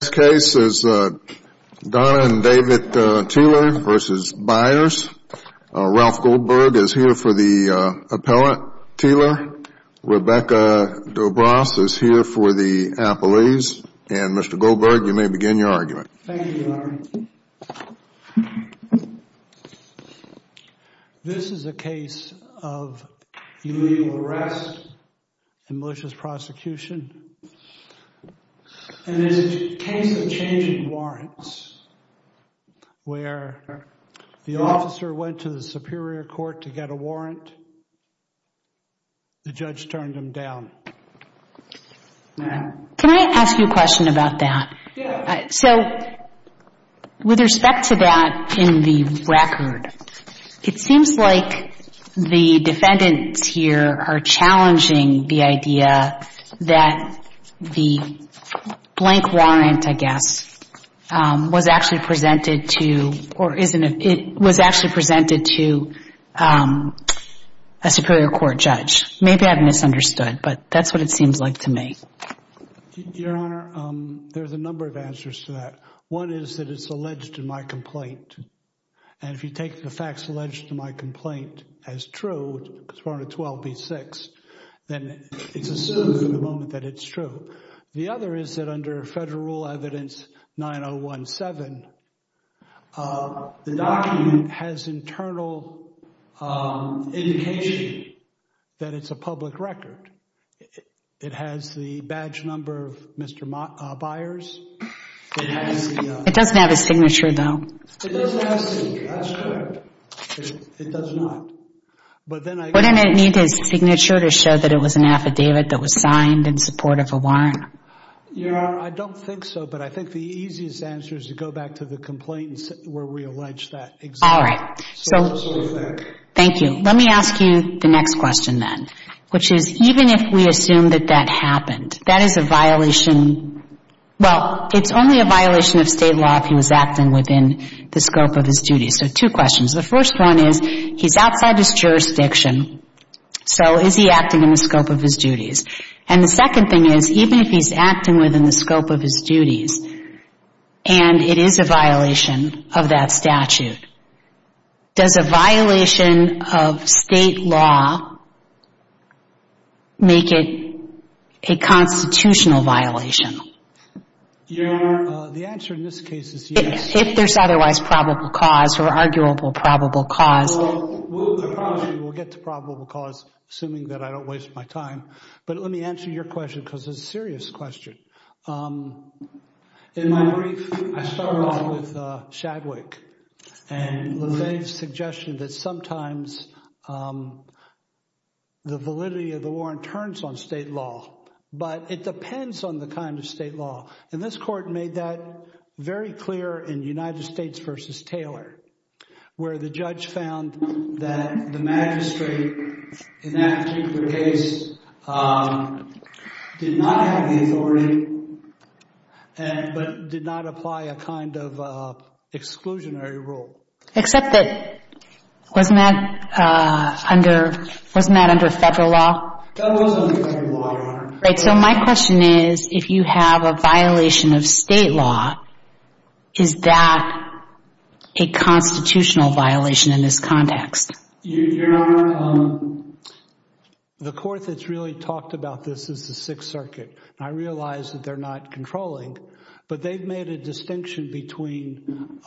This case is Don and David Tealer v. Byars. Ralph Goldberg is here for the appellate, Tealer. Rebecca Dobras is here for the appellees. And Mr. Goldberg, you may begin your argument. Thank you, Your Honor. This is a case of illegal arrest and malicious prosecution. And it's a case of changing warrants where the officer went to the superior court to get a warrant. The judge turned him down. Can I ask you a question about that? Yeah. That's what it seems like to me. Your Honor, there's a number of answers to that. One is that it's alleged in my complaint. And if you take the facts alleged in my complaint as true, as part of 12b-6, then it's assumed for the moment that it's true. The other is that under Federal Rule Evidence 9017, the document has internal indication that it's a public record. It has the badge number of Mr. Byars. It doesn't have his signature, though. It doesn't have his signature. That's correct. It does not. Wouldn't it need his signature to show that it was an affidavit that was signed in support of a warrant? Your Honor, I don't think so. But I think the easiest answer is to go back to the complaint where we alleged that. All right. Thank you. Let me ask you the next question, then. Which is, even if we assume that that happened, that is a violation. Well, it's only a violation of state law if he was acting within the scope of his duties. So two questions. The first one is, he's outside his jurisdiction, so is he acting in the scope of his duties? And the second thing is, even if he's acting within the scope of his duties and it is a violation of that statute, does a violation of state law make it a constitutional violation? Your Honor, the answer in this case is yes. If there's otherwise probable cause or arguable probable cause. Well, I promise you we'll get to probable cause, assuming that I don't waste my time. But let me answer your question, because it's a serious question. In my brief, I started off with Shadwick and Levesque's suggestion that sometimes the validity of the warrant turns on state law. But it depends on the kind of state law. And this court made that very clear in United States v. Taylor, where the judge found that the magistrate in that particular case did not have the authority but did not apply a kind of exclusionary rule. Except that, wasn't that under federal law? That was under federal law, Your Honor. Right, so my question is, if you have a violation of state law, is that a constitutional violation in this context? Your Honor, the court that's really talked about this is the Sixth Circuit. I realize that they're not controlling, but they've made a distinction between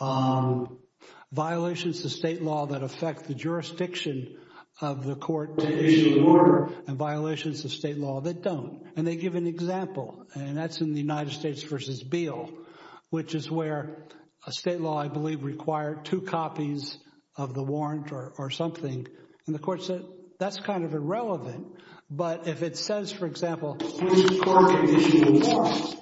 violations of state law that affect the jurisdiction of the court to issue a warrant and violations of state law that don't. And they give an example, and that's in the United States v. Beal, which is where a state law, I believe, required two copies of the warrant or something. And the court said, that's kind of irrelevant. But if it says, for example, this court can issue a warrant,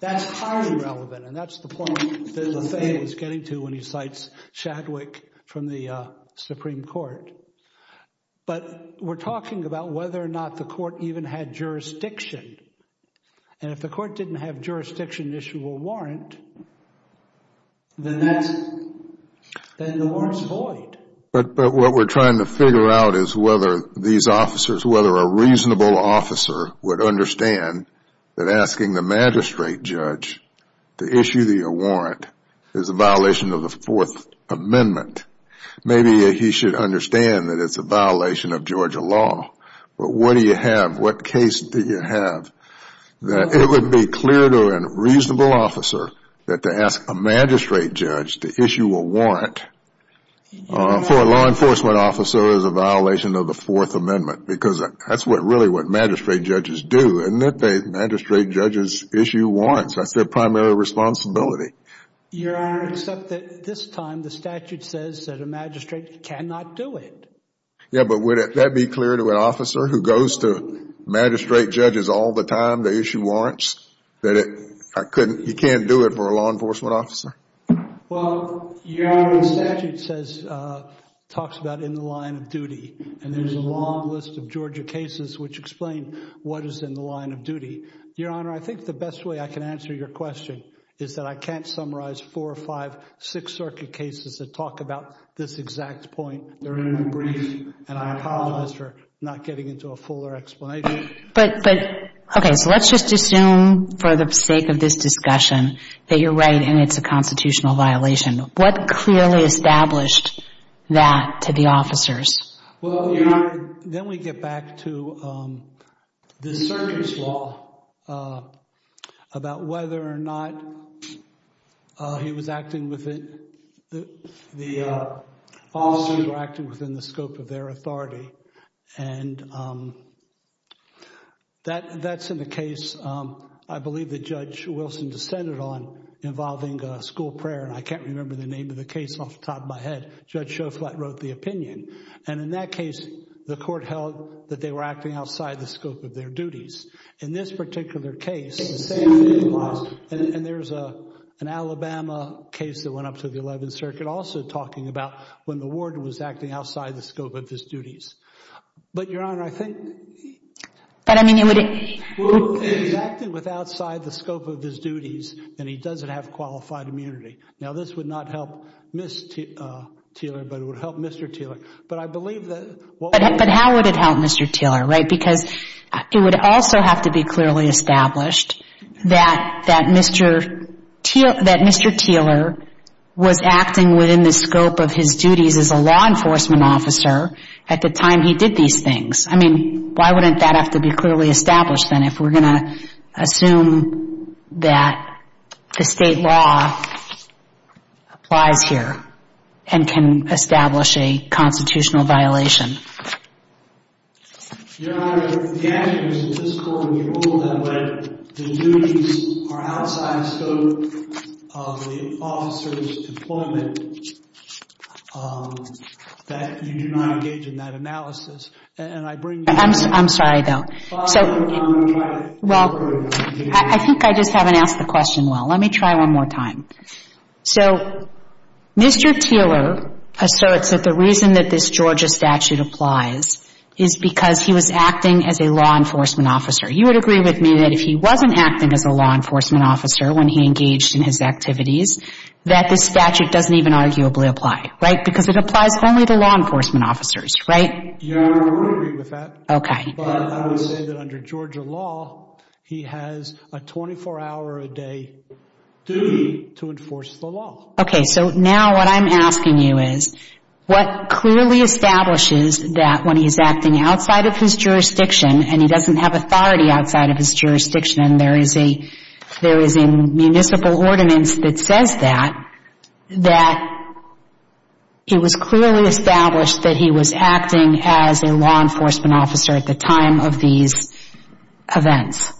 that's highly relevant. And that's the point that Lefebvre is getting to when he cites Shadwick from the Supreme Court. But we're talking about whether or not the court even had jurisdiction. And if the court didn't have jurisdiction to issue a warrant, then the warrant's void. But what we're trying to figure out is whether these officers, whether a reasonable officer, would understand that asking the magistrate judge to issue the warrant is a violation of the Fourth Amendment. Maybe he should understand that it's a violation of Georgia law. But what do you have? What case do you have that it would be clear to a reasonable officer that to ask a magistrate judge to issue a warrant for a law enforcement officer is a violation of the Fourth Amendment? Because that's really what magistrate judges do, isn't it? They magistrate judges issue warrants. That's their primary responsibility. Your Honor, except that this time the statute says that a magistrate cannot do it. Yeah, but would that be clear to an officer who goes to magistrate judges all the time to issue warrants, that you can't do it for a law enforcement officer? Well, Your Honor, the statute talks about in the line of duty. And there's a long list of Georgia cases which explain what is in the line of duty. Your Honor, I think the best way I can answer your question is that I can't summarize four or five Sixth Circuit cases that talk about this exact point. They're very brief, and I apologize for not getting into a fuller explanation. But, okay, so let's just assume for the sake of this discussion that you're right and it's a constitutional violation. What clearly established that to the officers? Well, Your Honor, then we get back to the circuit's law about whether or not the officers were acting within the scope of their authority. And that's in the case I believe that Judge Wilson dissented on involving school prayer. And I can't remember the name of the case off the top of my head. Judge Shoflat wrote the opinion. And in that case, the court held that they were acting outside the scope of their duties. In this particular case, the same thing applies. And there's an Alabama case that went up to the 11th Circuit also talking about when the warden was acting outside the scope of his duties. But, Your Honor, I think he's acting with outside the scope of his duties, and he doesn't have qualified immunity. Now, this would not help Ms. Teeler, but it would help Mr. Teeler. But I believe that— But how would it help Mr. Teeler, right? Because it would also have to be clearly established that Mr. Teeler was acting within the scope of his duties as a law enforcement officer at the time he did these things. I mean, why wouldn't that have to be clearly established, then, if we're going to assume that the state law applies here and can establish a constitutional violation? Your Honor, the action was statistical, and we ruled that the duties are outside the scope of the officer's employment, that you do not engage in that analysis. I'm sorry, though. Well, I think I just haven't asked the question well. Let me try one more time. So Mr. Teeler asserts that the reason that this Georgia statute applies is because he was acting as a law enforcement officer. You would agree with me that if he wasn't acting as a law enforcement officer when he engaged in his activities, that this statute doesn't even arguably apply, right? Because it applies only to law enforcement officers, right? Your Honor, I would agree with that. Okay. But I would say that under Georgia law, he has a 24-hour-a-day duty to enforce the law. Okay, so now what I'm asking you is what clearly establishes that when he's acting outside of his jurisdiction and he doesn't have authority outside of his jurisdiction, there is a municipal ordinance that says that, that it was clearly established that he was acting as a law enforcement officer at the time of these events.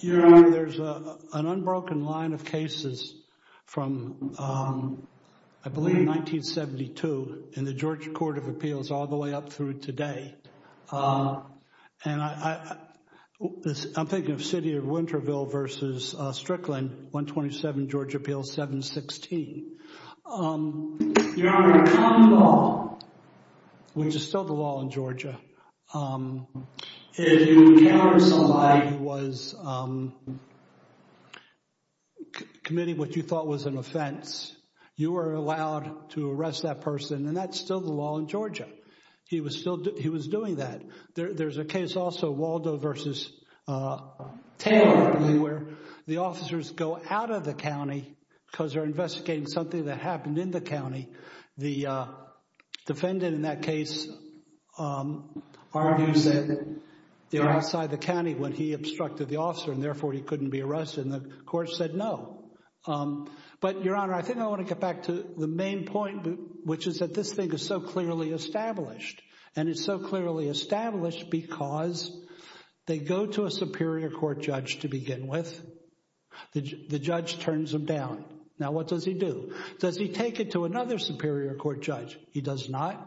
Your Honor, there's an unbroken line of cases from, I believe, 1972 in the Georgia Court of Appeals all the way up through today. And I'm thinking of City of Winterville versus Strickland, 127 Georgia Appeals 716. Your Honor, in common law, which is still the law in Georgia, if you encounter somebody who was committing what you thought was an offense, you are allowed to arrest that person, and that's still the law in Georgia. He was doing that. There's a case also, Waldo versus Taylor, I believe, where the officers go out of the county because they're investigating something that happened in the county. The defendant in that case argues that they were outside the county when he obstructed the officer and therefore he couldn't be arrested, and the court said no. But, Your Honor, I think I want to get back to the main point, which is that this thing is so clearly established. And it's so clearly established because they go to a superior court judge to begin with. The judge turns him down. Now, what does he do? Does he take it to another superior court judge? He does not.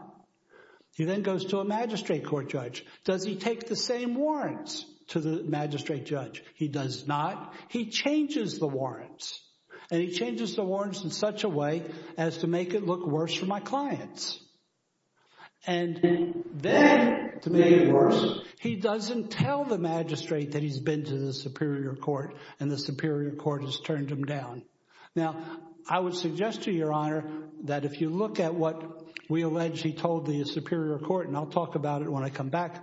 He then goes to a magistrate court judge. Does he take the same warrants to the magistrate judge? He does not. He changes the warrants, and he changes the warrants in such a way as to make it look worse for my clients. And then to make it worse, he doesn't tell the magistrate that he's been to the superior court and the superior court has turned him down. Now, I would suggest to you, Your Honor, that if you look at what we allege he told the superior court, and I'll talk about it when I come back.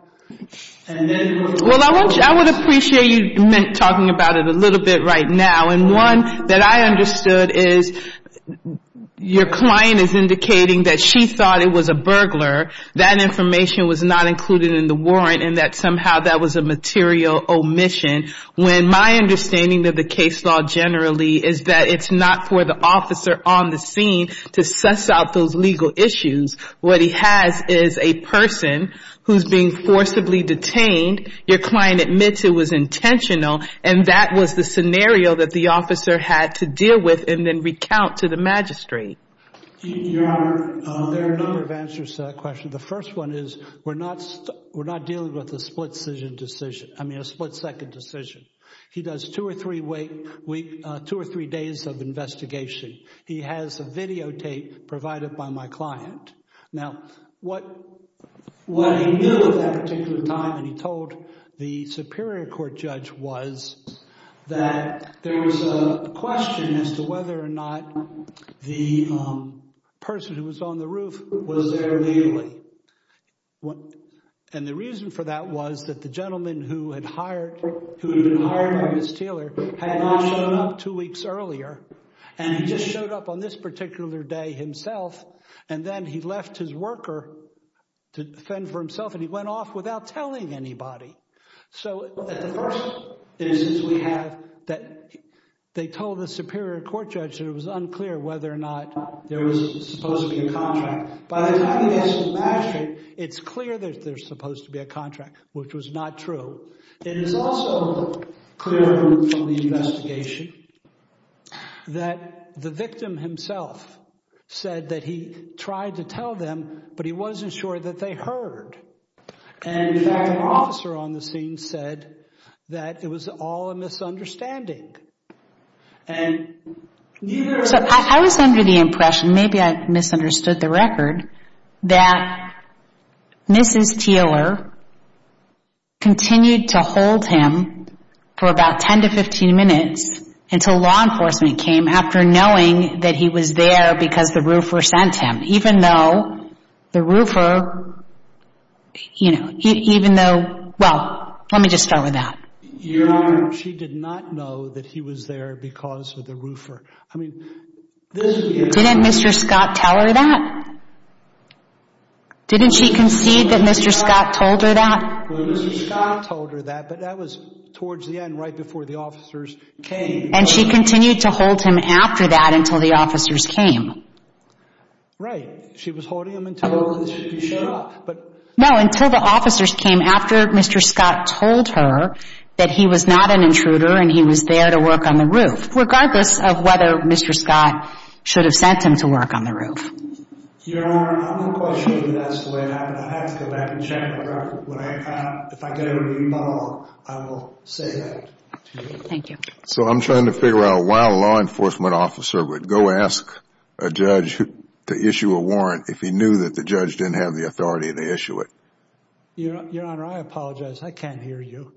Well, I would appreciate you talking about it a little bit right now. And one that I understood is your client is indicating that she thought it was a burglar, that information was not included in the warrant, and that somehow that was a material omission. When my understanding of the case law generally is that it's not for the officer on the scene to suss out those legal issues. What he has is a person who's being forcibly detained. Your client admits it was intentional, and that was the scenario that the officer had to deal with and then recount to the magistrate. Your Honor, there are a number of answers to that question. The first one is we're not dealing with a split-second decision. He does two or three days of investigation. He has a videotape provided by my client. Now, what he knew at that particular time and he told the superior court judge was that there was a question as to whether or not the person who was on the roof was there legally. And the reason for that was that the gentleman who had been hired by Ms. Teeler had not shown up two weeks earlier, and he just showed up on this particular day himself, and then he left his worker to fend for himself, and he went off without telling anybody. So the first instance we have that they told the superior court judge that it was unclear whether or not there was supposed to be a contract. By the time he gets to the magistrate, it's clear that there's supposed to be a contract, which was not true. It is also clear from the investigation that the victim himself said that he tried to tell them, but he wasn't sure that they heard. And, in fact, an officer on the scene said that it was all a misunderstanding. So I was under the impression, maybe I misunderstood the record, that Mrs. Teeler continued to hold him for about 10 to 15 minutes until law enforcement came after knowing that he was there because the roofer sent him, even though the roofer, you know, even though, well, let me just start with that. Your Honor, she did not know that he was there because of the roofer. I mean, this would be a different story. Didn't Mr. Scott tell her that? Didn't she concede that Mr. Scott told her that? Well, Mr. Scott told her that, but that was towards the end, right before the officers came. And she continued to hold him after that until the officers came? Right. She was holding him until he showed up. No, until the officers came after Mr. Scott told her that he was not an intruder and he was there to work on the roof, regardless of whether Mr. Scott should have sent him to work on the roof. Your Honor, I'm not quite sure that that's the way it happened. I'd have to go back and check the record. If I get an email, I will say that. Thank you. So I'm trying to figure out why a law enforcement officer would go ask a judge to issue a warrant if he knew that the judge didn't have the authority to issue it. Your Honor, I apologize. I can't hear you.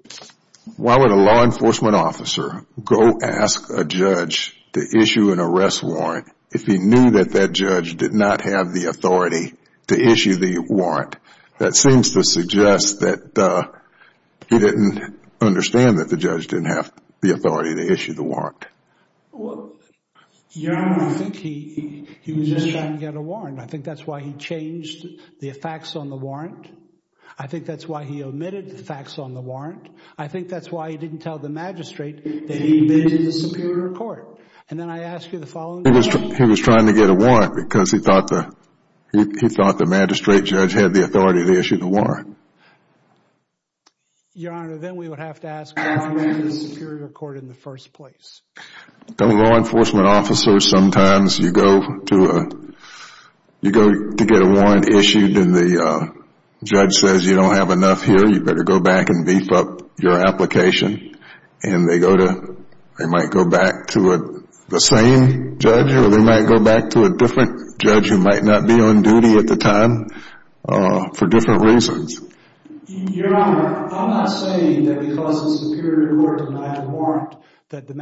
Why would a law enforcement officer go ask a judge to issue an arrest warrant if he knew that that judge did not have the authority to issue the warrant? That seems to suggest that he didn't understand that the judge didn't have the authority to issue the warrant. Your Honor, I think he was just trying to get a warrant. I think that's why he changed the facts on the warrant. I think that's why he omitted the facts on the warrant. I think that's why he didn't tell the magistrate that he'd been to the Superior Court. He was trying to get a warrant because he thought the magistrate judge had the authority to issue the warrant. Your Honor, then we would have to ask the Superior Court in the first place. A law enforcement officer, sometimes you go to get a warrant issued and the judge says, you don't have enough here, you better go back and beef up your application. They might go back to the same judge or they might go back to a different judge who might not be on duty at the time for different reasons. Your Honor, I'm not saying that because the Superior Court denied a warrant that any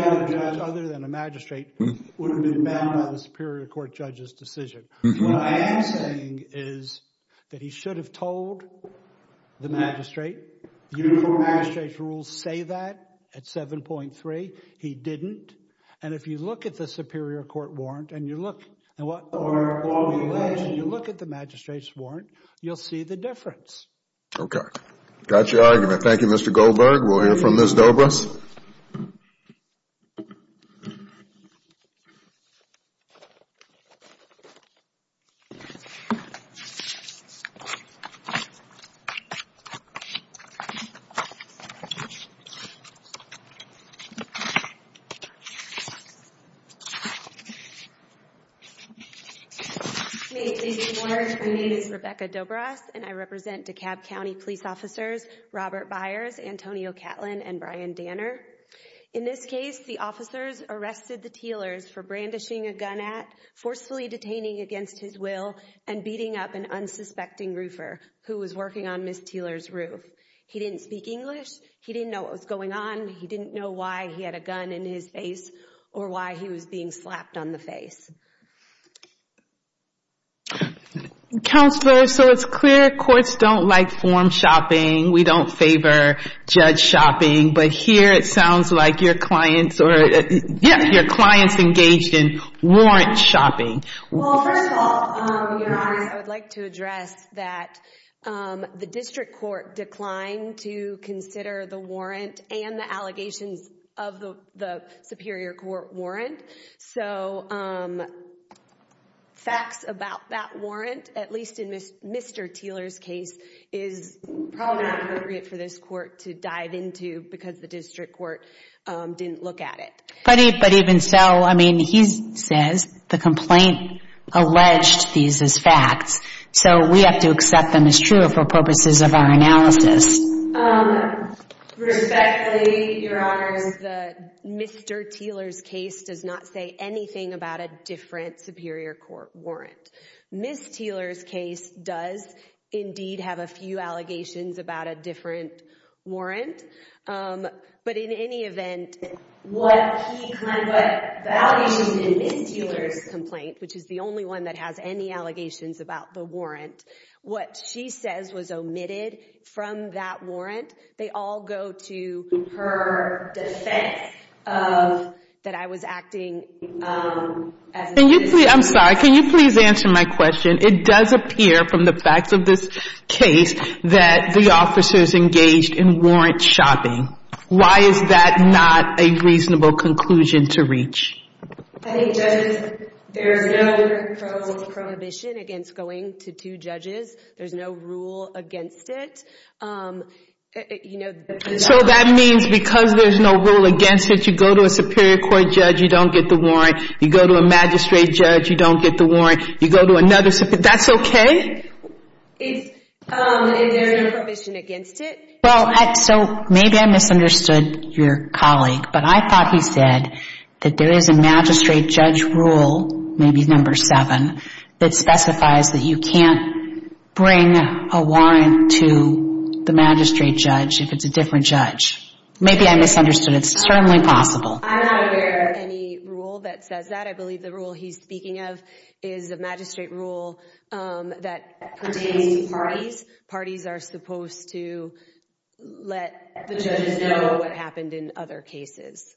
other judge other than a magistrate would have been bound by the Superior Court judge's decision. What I am saying is that he should have told the magistrate. The Uniform Magistrate's Rules say that at 7.3. He didn't. And if you look at the Superior Court warrant and you look at the magistrate's warrant, you'll see the difference. Okay. Got your argument. Thank you, Mr. Goldberg. We'll hear from Ms. Dobras. My name is Rebecca Dobras and I represent DeKalb County Police Officers Robert Byers, Antonio Catlin, and Brian Danner. In this case, the officers arrested the Teelers for brandishing a gun at, forcefully detaining against his will, and beating up an unsuspecting roofer who was working on Ms. Teeler's roof. He didn't speak English. He didn't know what was going on. He didn't know why he had a gun in his face or why he was being slapped on the face. Counselor, so it's clear courts don't like form shopping. We don't favor judge shopping. But here it sounds like your clients engaged in warrant shopping. Well, first of all, Your Honor, I would like to address that the District Court declined to consider the warrant and the allegations of the Superior Court warrant. So, facts about that warrant, at least in Mr. Teeler's case, is probably not appropriate for this court to dive into because the District Court didn't look at it. But even so, I mean, he says the complaint alleged these as facts, so we have to accept them as true for purposes of our analysis. Respectfully, Your Honors, Mr. Teeler's case does not say anything about a different Superior Court warrant. Ms. Teeler's case does, indeed, have a few allegations about a different warrant. But in any event, what he kind of, what the allegations in Ms. Teeler's complaint, which is the only one that has any allegations about the warrant, what she says was omitted from that warrant, they all go to her defense of that I was acting as a citizen. Can you please, I'm sorry, can you please answer my question? It does appear from the facts of this case that the officers engaged in warrant shopping. Why is that not a reasonable conclusion to reach? I think, Judge, there is no prohibition against going to two judges. There's no rule against it. So that means because there's no rule against it, you go to a Superior Court judge, you don't get the warrant. You go to a magistrate judge, you don't get the warrant. You go to another, that's okay? Is there no prohibition against it? Well, so maybe I misunderstood your colleague, but I thought he said that there is a magistrate judge rule, maybe number seven, that specifies that you can't bring a warrant to the magistrate judge if it's a different judge. Maybe I misunderstood. It's certainly possible. I'm not aware of any rule that says that. I believe the rule he's speaking of is a magistrate rule that pertains to parties. Parties are supposed to let the judges know what happened in other cases.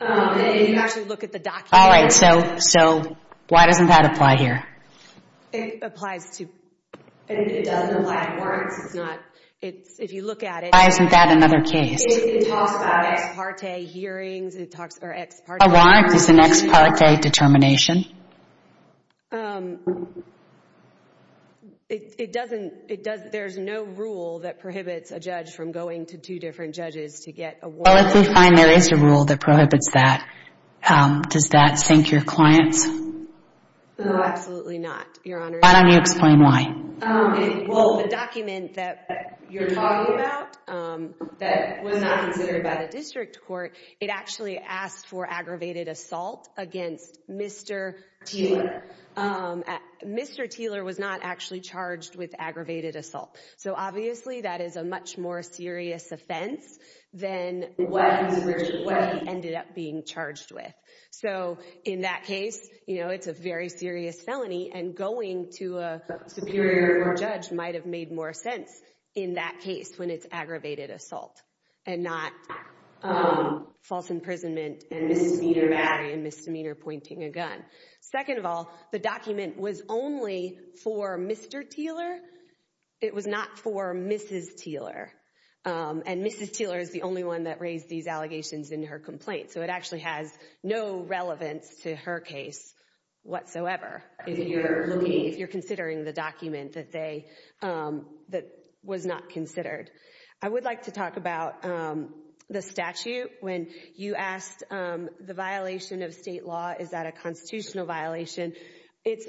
If you actually look at the document. All right, so why doesn't that apply here? It applies to, it doesn't apply to warrants. It's not, if you look at it. Why isn't that another case? It talks about ex parte hearings. A warrant is an ex parte determination. It doesn't, there's no rule that prohibits a judge from going to two different judges to get a warrant. Well, if we find there is a rule that prohibits that, does that sink your clients? No, absolutely not, Your Honor. Why don't you explain why? Well, the document that you're talking about that was not considered by the district court, it actually asked for aggravated assault against Mr. Teeler. Mr. Teeler was not actually charged with aggravated assault. So obviously that is a much more serious offense than what he ended up being charged with. So in that case, you know, it's a very serious felony and going to a superior judge might have made more sense in that case when it's aggravated assault. And not false imprisonment and misdemeanor battery and misdemeanor pointing a gun. Second of all, the document was only for Mr. Teeler. It was not for Mrs. Teeler. And Mrs. Teeler is the only one that raised these allegations in her complaint. So it actually has no relevance to her case whatsoever if you're considering the document that was not considered. I would like to talk about the statute. When you asked the violation of state law, is that a constitutional violation? It's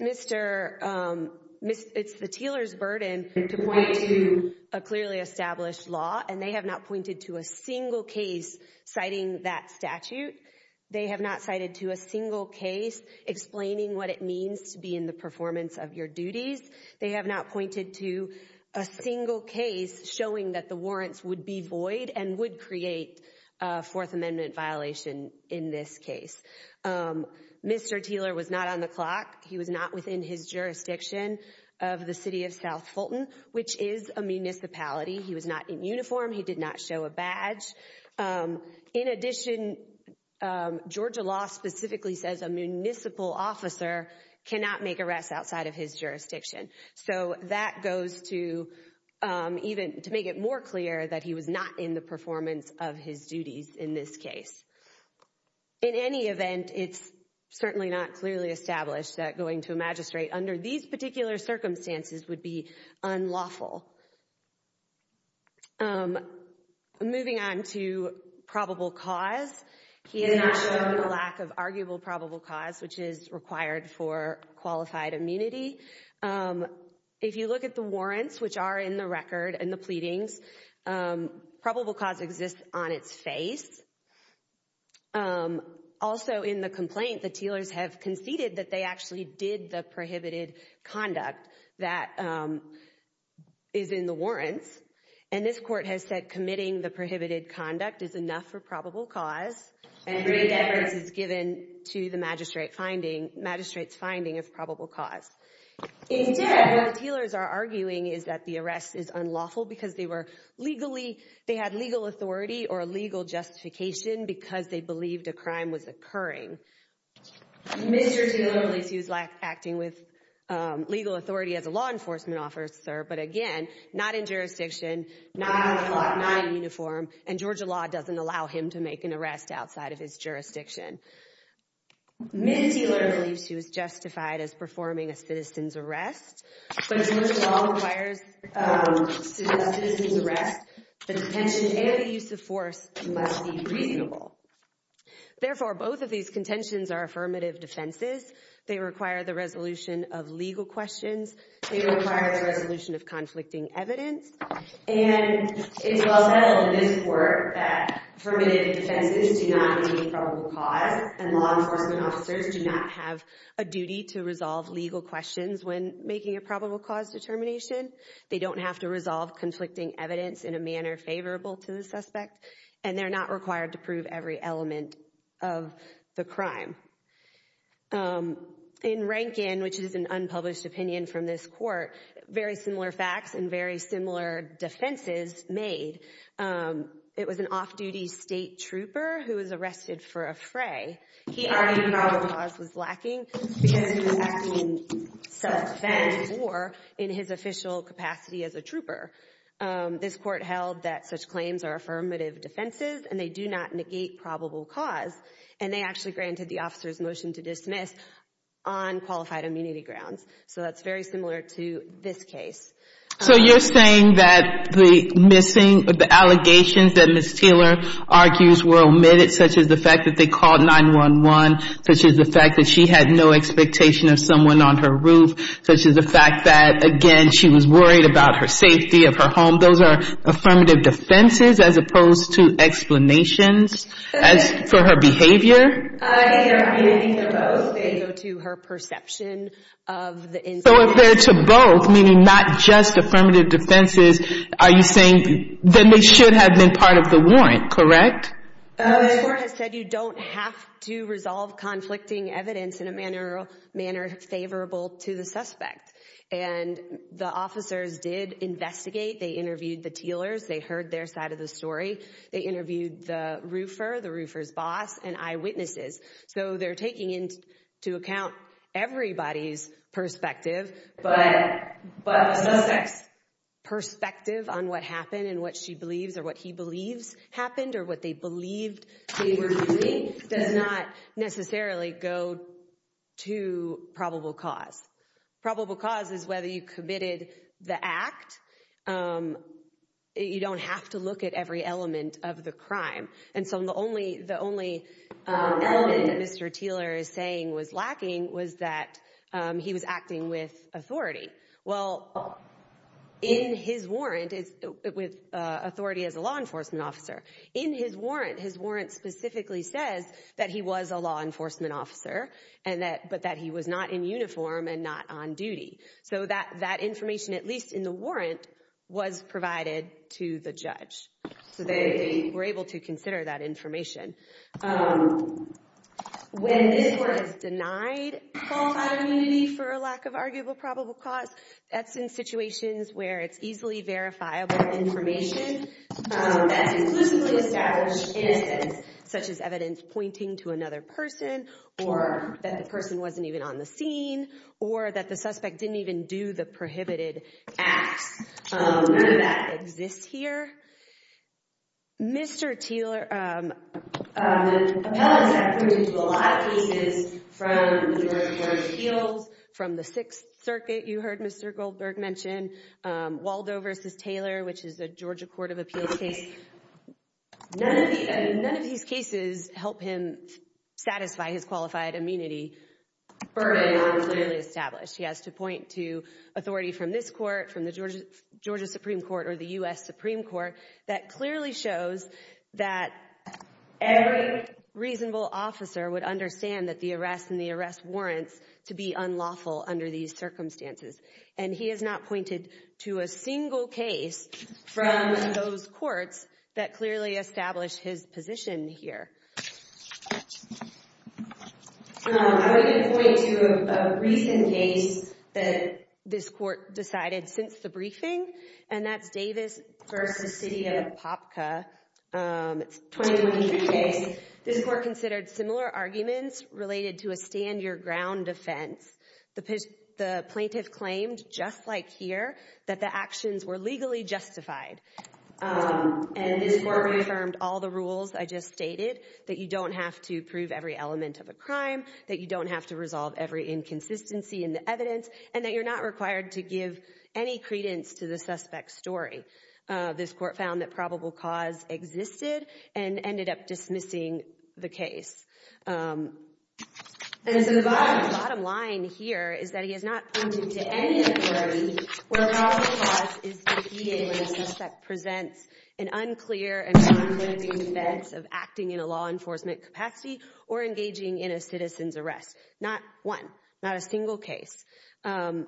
the Teeler's burden to point to a clearly established law. And they have not pointed to a single case citing that statute. They have not cited to a single case explaining what it means to be in the performance of your duties. They have not pointed to a single case showing that the warrants would be void and would create a Fourth Amendment violation in this case. Mr. Teeler was not on the clock. He was not within his jurisdiction of the city of South Fulton, which is a municipality. He was not in uniform. He did not show a badge. In addition, Georgia law specifically says a municipal officer cannot make arrests outside of his jurisdiction. So that goes to even to make it more clear that he was not in the performance of his duties in this case. In any event, it's certainly not clearly established that going to a magistrate under these particular circumstances would be unlawful. Moving on to probable cause, he has not shown a lack of arguable probable cause, which is required for qualified immunity. If you look at the warrants, which are in the record and the pleadings, probable cause exists on its face. Also in the complaint, the Teelers have conceded that they actually did the prohibited conduct that is in the warrants. And this court has said committing the prohibited conduct is enough for probable cause. And great efforts is given to the magistrate's finding of probable cause. In fact, what the Teelers are arguing is that the arrest is unlawful because they were legally, they had legal authority or legal justification because they believed a crime was occurring. Mr. Teeler believes he was acting with legal authority as a law enforcement officer, but again, not in jurisdiction, not in uniform, and Georgia law doesn't allow him to make an arrest outside of his jurisdiction. Ms. Teeler believes she was justified as performing a citizen's arrest, but Georgia law requires a citizen's arrest, the detention, and the use of force must be reasonable. Therefore, both of these contentions are affirmative defenses. They require the resolution of legal questions. They require the resolution of conflicting evidence. And it's well known in this court that affirmative defenses do not contain probable cause, and law enforcement officers do not have a duty to resolve legal questions when making a probable cause determination. They don't have to resolve conflicting evidence in a manner favorable to the suspect, and they're not required to prove every element of the crime. In Rankin, which is an unpublished opinion from this court, very similar facts and very similar defenses made. It was an off-duty state trooper who was arrested for a fray. He argued probable cause was lacking because he was acting in self-defense or in his official capacity as a trooper. This court held that such claims are affirmative defenses, and they do not negate probable cause. And they actually granted the officer's motion to dismiss on qualified immunity grounds. So that's very similar to this case. So you're saying that the allegations that Ms. Teeler argues were omitted, such as the fact that they called 911, such as the fact that she had no expectation of someone on her roof, such as the fact that, again, she was worried about her safety of her home, those are affirmative defenses as opposed to explanations for her behavior? They go to her perception of the incident. So if they're to both, meaning not just affirmative defenses, are you saying then they should have been part of the warrant, correct? The court has said you don't have to resolve conflicting evidence in a manner favorable to the suspect. And the officers did investigate. They interviewed the Teelers. They heard their side of the story. They interviewed the roofer, the roofer's boss, and eyewitnesses. So they're taking into account everybody's perspective. But the suspect's perspective on what happened and what she believes or what he believes happened or what they believed they were doing does not necessarily go to probable cause. Probable cause is whether you committed the act. You don't have to look at every element of the crime. And so the only element that Mr. Teeler is saying was lacking was that he was acting with authority. Well, in his warrant, with authority as a law enforcement officer, in his warrant, his warrant specifically says that he was a law enforcement officer, but that he was not in uniform and not on duty. So that information, at least in the warrant, was provided to the judge. So they were able to consider that information. When this court has denied qualified immunity for a lack of arguable probable cause, that's in situations where it's easily verifiable information that's exclusively established innocence, such as evidence pointing to another person or that the person wasn't even on the scene or that the suspect didn't even do the prohibited acts. None of that exists here. Mr. Teeler, the appellants have proved a lot of cases from the Georgia Court of Appeals, from the Sixth Circuit, you heard Mr. Goldberg mention, Waldo versus Taylor, which is a Georgia Court of Appeals case. None of these cases help him satisfy his qualified immunity. He has to point to authority from this court, from the Georgia Supreme Court or the U.S. Supreme Court, that clearly shows that every reasonable officer would understand that the arrest and the arrest warrants to be unlawful under these circumstances. And he has not pointed to a single case from those courts that clearly established his position here. I'm going to point to a recent case that this court decided since the briefing, and that's Davis versus City of Popka. It's a 2023 case. This court considered similar arguments related to a stand-your-ground defense. The plaintiff claimed, just like here, that the actions were legally justified. And this court reaffirmed all the rules I just stated, that you don't have to prove every element of a crime, that you don't have to resolve every inconsistency in the evidence, and that you're not required to give any credence to the suspect's story. This court found that probable cause existed and ended up dismissing the case. And so the bottom line here is that he is not pointing to any authority where probable cause is the key evidence that presents an unclear and conflicting defense of acting in a law enforcement capacity or engaging in a citizen's arrest. Not one. Not a single case. Going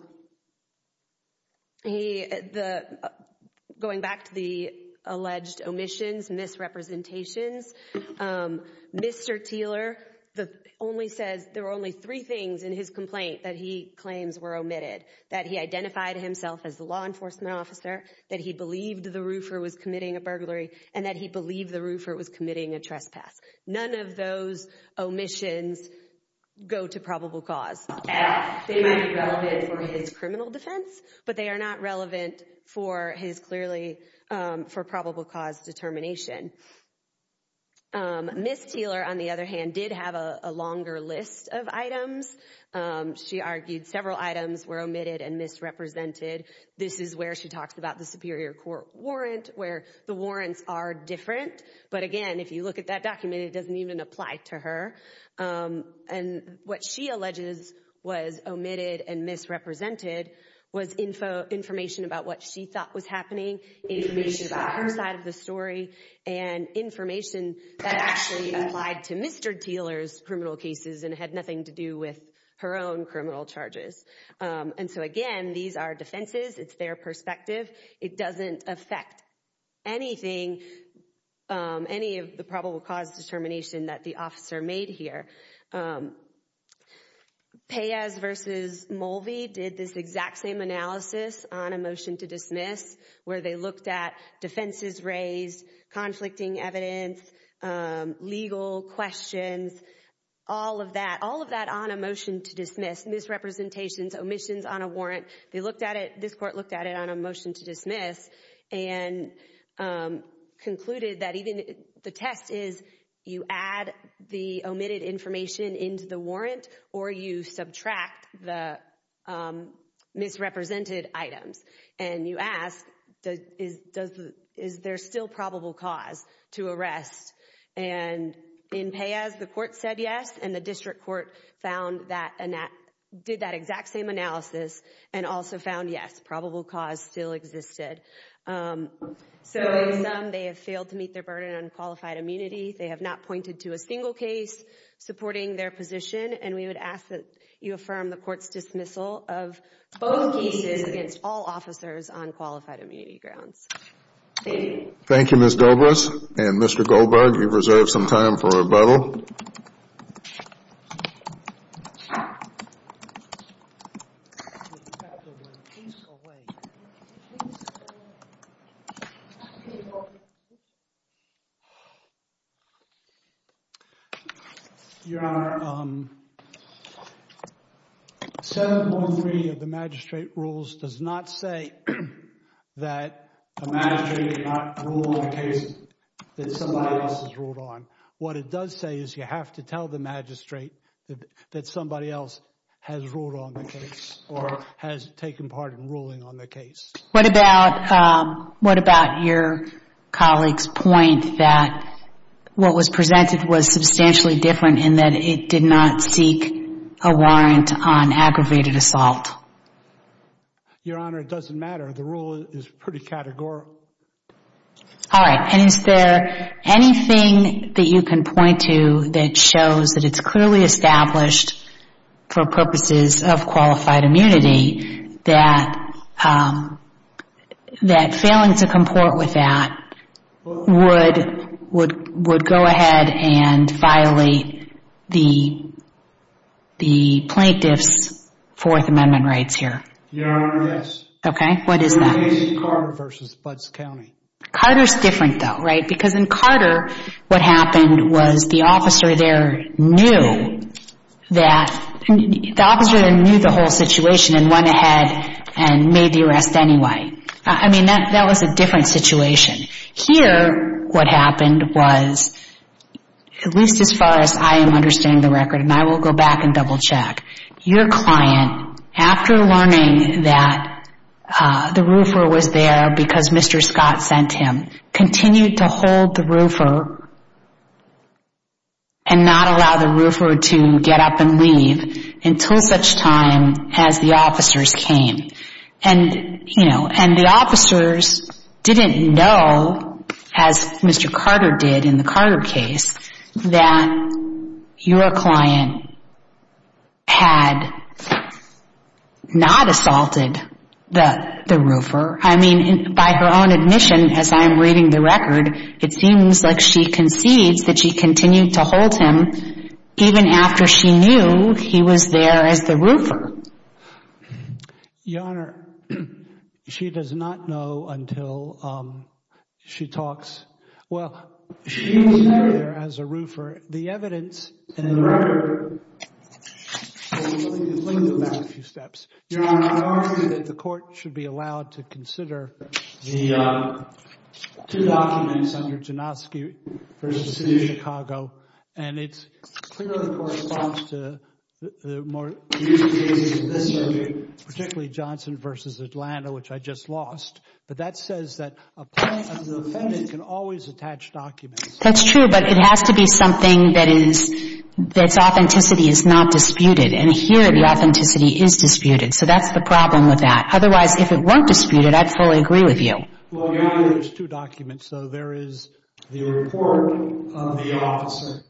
back to the alleged omissions, misrepresentations, Mr. Teeler only says there were only three things in his complaint that he claims were omitted, that he identified himself as the law enforcement officer, that he believed the roofer was committing a burglary, and that he believed the roofer was committing a trespass. None of those omissions go to probable cause. They might be relevant for his criminal defense, but they are not relevant for his, clearly, for probable cause determination. Ms. Teeler, on the other hand, did have a longer list of items. She argued several items were omitted and misrepresented. This is where she talks about the Superior Court warrant, where the warrants are different. But again, if you look at that document, it doesn't even apply to her. And what she alleges was omitted and misrepresented was information about what she thought was happening, information about her side of the story, and information that actually applied to Mr. Teeler's criminal cases and had nothing to do with her own criminal charges. And so, again, these are defenses. It's their perspective. It doesn't affect anything, any of the probable cause determination that the officer made here. Paez v. Mulvey did this exact same analysis on a motion to dismiss, where they looked at defenses raised, conflicting evidence, legal questions, all of that, all of that on a motion to dismiss, misrepresentations, omissions on a warrant. They looked at it, this court looked at it on a motion to dismiss and concluded that even the test is you add the omitted information into the warrant or you subtract the misrepresented items. And you ask, is there still probable cause to arrest? And in Paez, the court said yes, and the district court found that and did that exact same analysis and also found yes, probable cause still existed. So in sum, they have failed to meet their burden on qualified immunity. They have not pointed to a single case supporting their position. And we would ask that you affirm the court's dismissal of both cases against all officers on qualified immunity grounds. Thank you. Thank you, Ms. Dobris. And Mr. Goldberg, you've reserved some time for rebuttal. Your Honor, 7.3 of the magistrate rules does not say that a magistrate did not rule on a case that somebody else has ruled on. What it does say is you have to tell the magistrate that somebody else has ruled on the case or has taken part in ruling on the case. What about your colleague's point that what was presented was substantially different in that it did not seek a warrant on aggravated assault? Your Honor, it doesn't matter. The rule is pretty categorical. All right. And is there anything that you can point to that shows that it's clearly established for purposes of qualified immunity that failing to comport with that would go ahead and violate the plaintiff's Fourth Amendment rights here? Your Honor, yes. Okay. What is that? Carter's different, though, right? Because in Carter, what happened was the officer there knew that the officer knew the whole situation and went ahead and made the arrest anyway. I mean, that was a different situation. Here, what happened was, at least as far as I am understanding the record, and I will go back and double check. Your client, after learning that the roofer was there because Mr. Scott sent him, continued to hold the roofer and not allow the roofer to get up and leave until such time as the officers came. And the officers didn't know, as Mr. Carter did in the Carter case, that your client had not assaulted the roofer. I mean, by her own admission, as I am reading the record, it seems like she concedes that she continued to hold him even after she knew he was there as the roofer. Your Honor, she does not know until she talks. Well, she was there as a roofer. The evidence in the record, let me go back a few steps. Your Honor, I argue that the court should be allowed to consider the two documents under Janoski v. City of Chicago. And it clearly corresponds to the more recent cases in this circuit, particularly Johnson v. Atlanta, which I just lost. But that says that a client or defendant can always attach documents. That's true, but it has to be something that's authenticity is not disputed. And here, the authenticity is disputed. So that's the problem with that. Otherwise, if it weren't disputed, I'd fully agree with you. Well, Your Honor, there's two documents. So there is the report of the officer,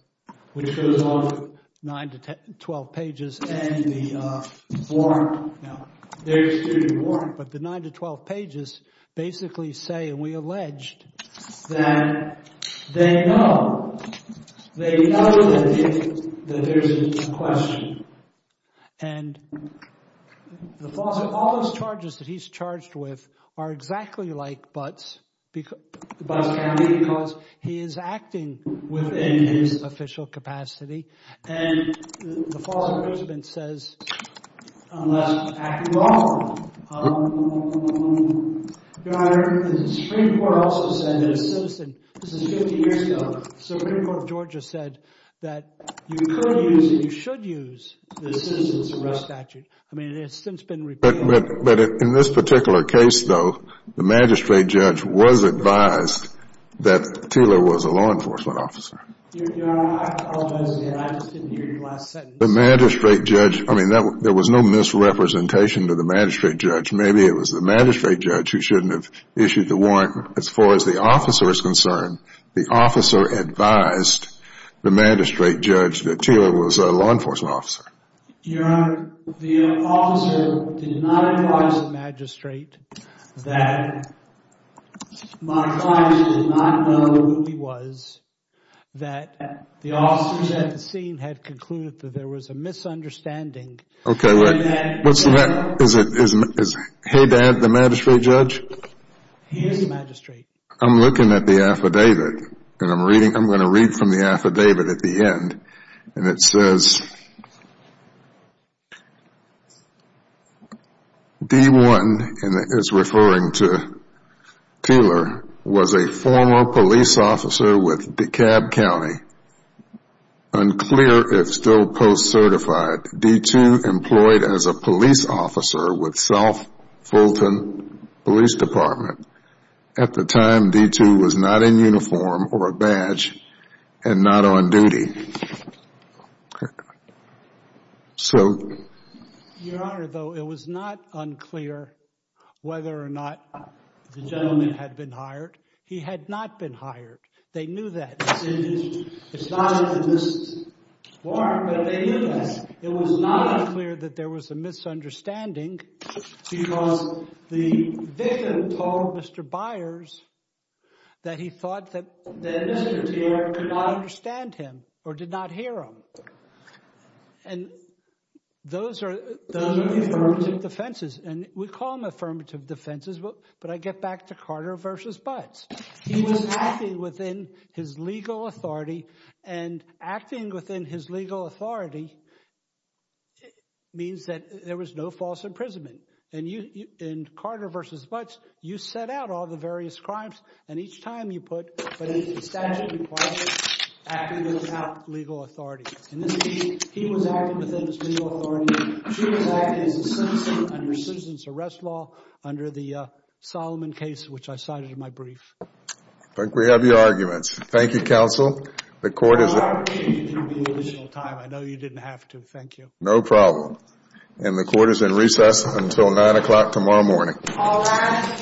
which goes on 9 to 12 pages, and the warrant. Now, there is a warrant, but the 9 to 12 pages basically say, and we alleged, that they know. They know that there's a question. And all those charges that he's charged with are exactly like Butts County, because he is acting within his official capacity. And the Foster President says, unless acted on. Your Honor, the Supreme Court also said that a citizen, this is 50 years ago, the Supreme Court of Georgia said that you could use and you should use the citizen's arrest statute. I mean, it has since been repealed. But in this particular case, though, the magistrate judge was advised that Taylor was a law enforcement officer. Your Honor, I apologize again. I just didn't hear your last sentence. The magistrate judge, I mean, there was no misrepresentation to the magistrate judge. Maybe it was the magistrate judge who shouldn't have issued the warrant. As far as the officer is concerned, the officer advised the magistrate judge that Taylor was a law enforcement officer. Your Honor, the officer did not advise the magistrate that, my apologies, did not know who he was, that the officers at the scene had concluded that there was a misunderstanding. Okay, wait. Is Haydad the magistrate judge? He is the magistrate. I'm looking at the affidavit and I'm going to read from the affidavit at the end. And it says, D1, and it's referring to Taylor, was a former police officer with DeKalb County. Unclear if still post-certified, D2 employed as a police officer with South Fulton Police Department. At the time, D2 was not in uniform or a badge and not on duty. Your Honor, though, it was not unclear whether or not the gentleman had been hired. He had not been hired. They knew that. It's not in this warrant, but they knew that. It was not clear that there was a misunderstanding because the victim told Mr. Byers that he thought that Mr. Taylor could not understand him or did not hear him. And those are the affirmative defenses. And we call them affirmative defenses, but I get back to Carter versus Buds. He was acting within his legal authority. And acting within his legal authority means that there was no false imprisonment. And in Carter versus Buds, you set out all the various crimes. And each time you put a statute in place, acting without legal authority. In this case, he was acting within his legal authority. Your Honor, we choose that as a citizen under citizen's arrest law under the Solomon case, which I cited in my brief. I think we have your arguments. Thank you, counsel. The court is in recess until 9 o'clock tomorrow morning. All rise. Thank you.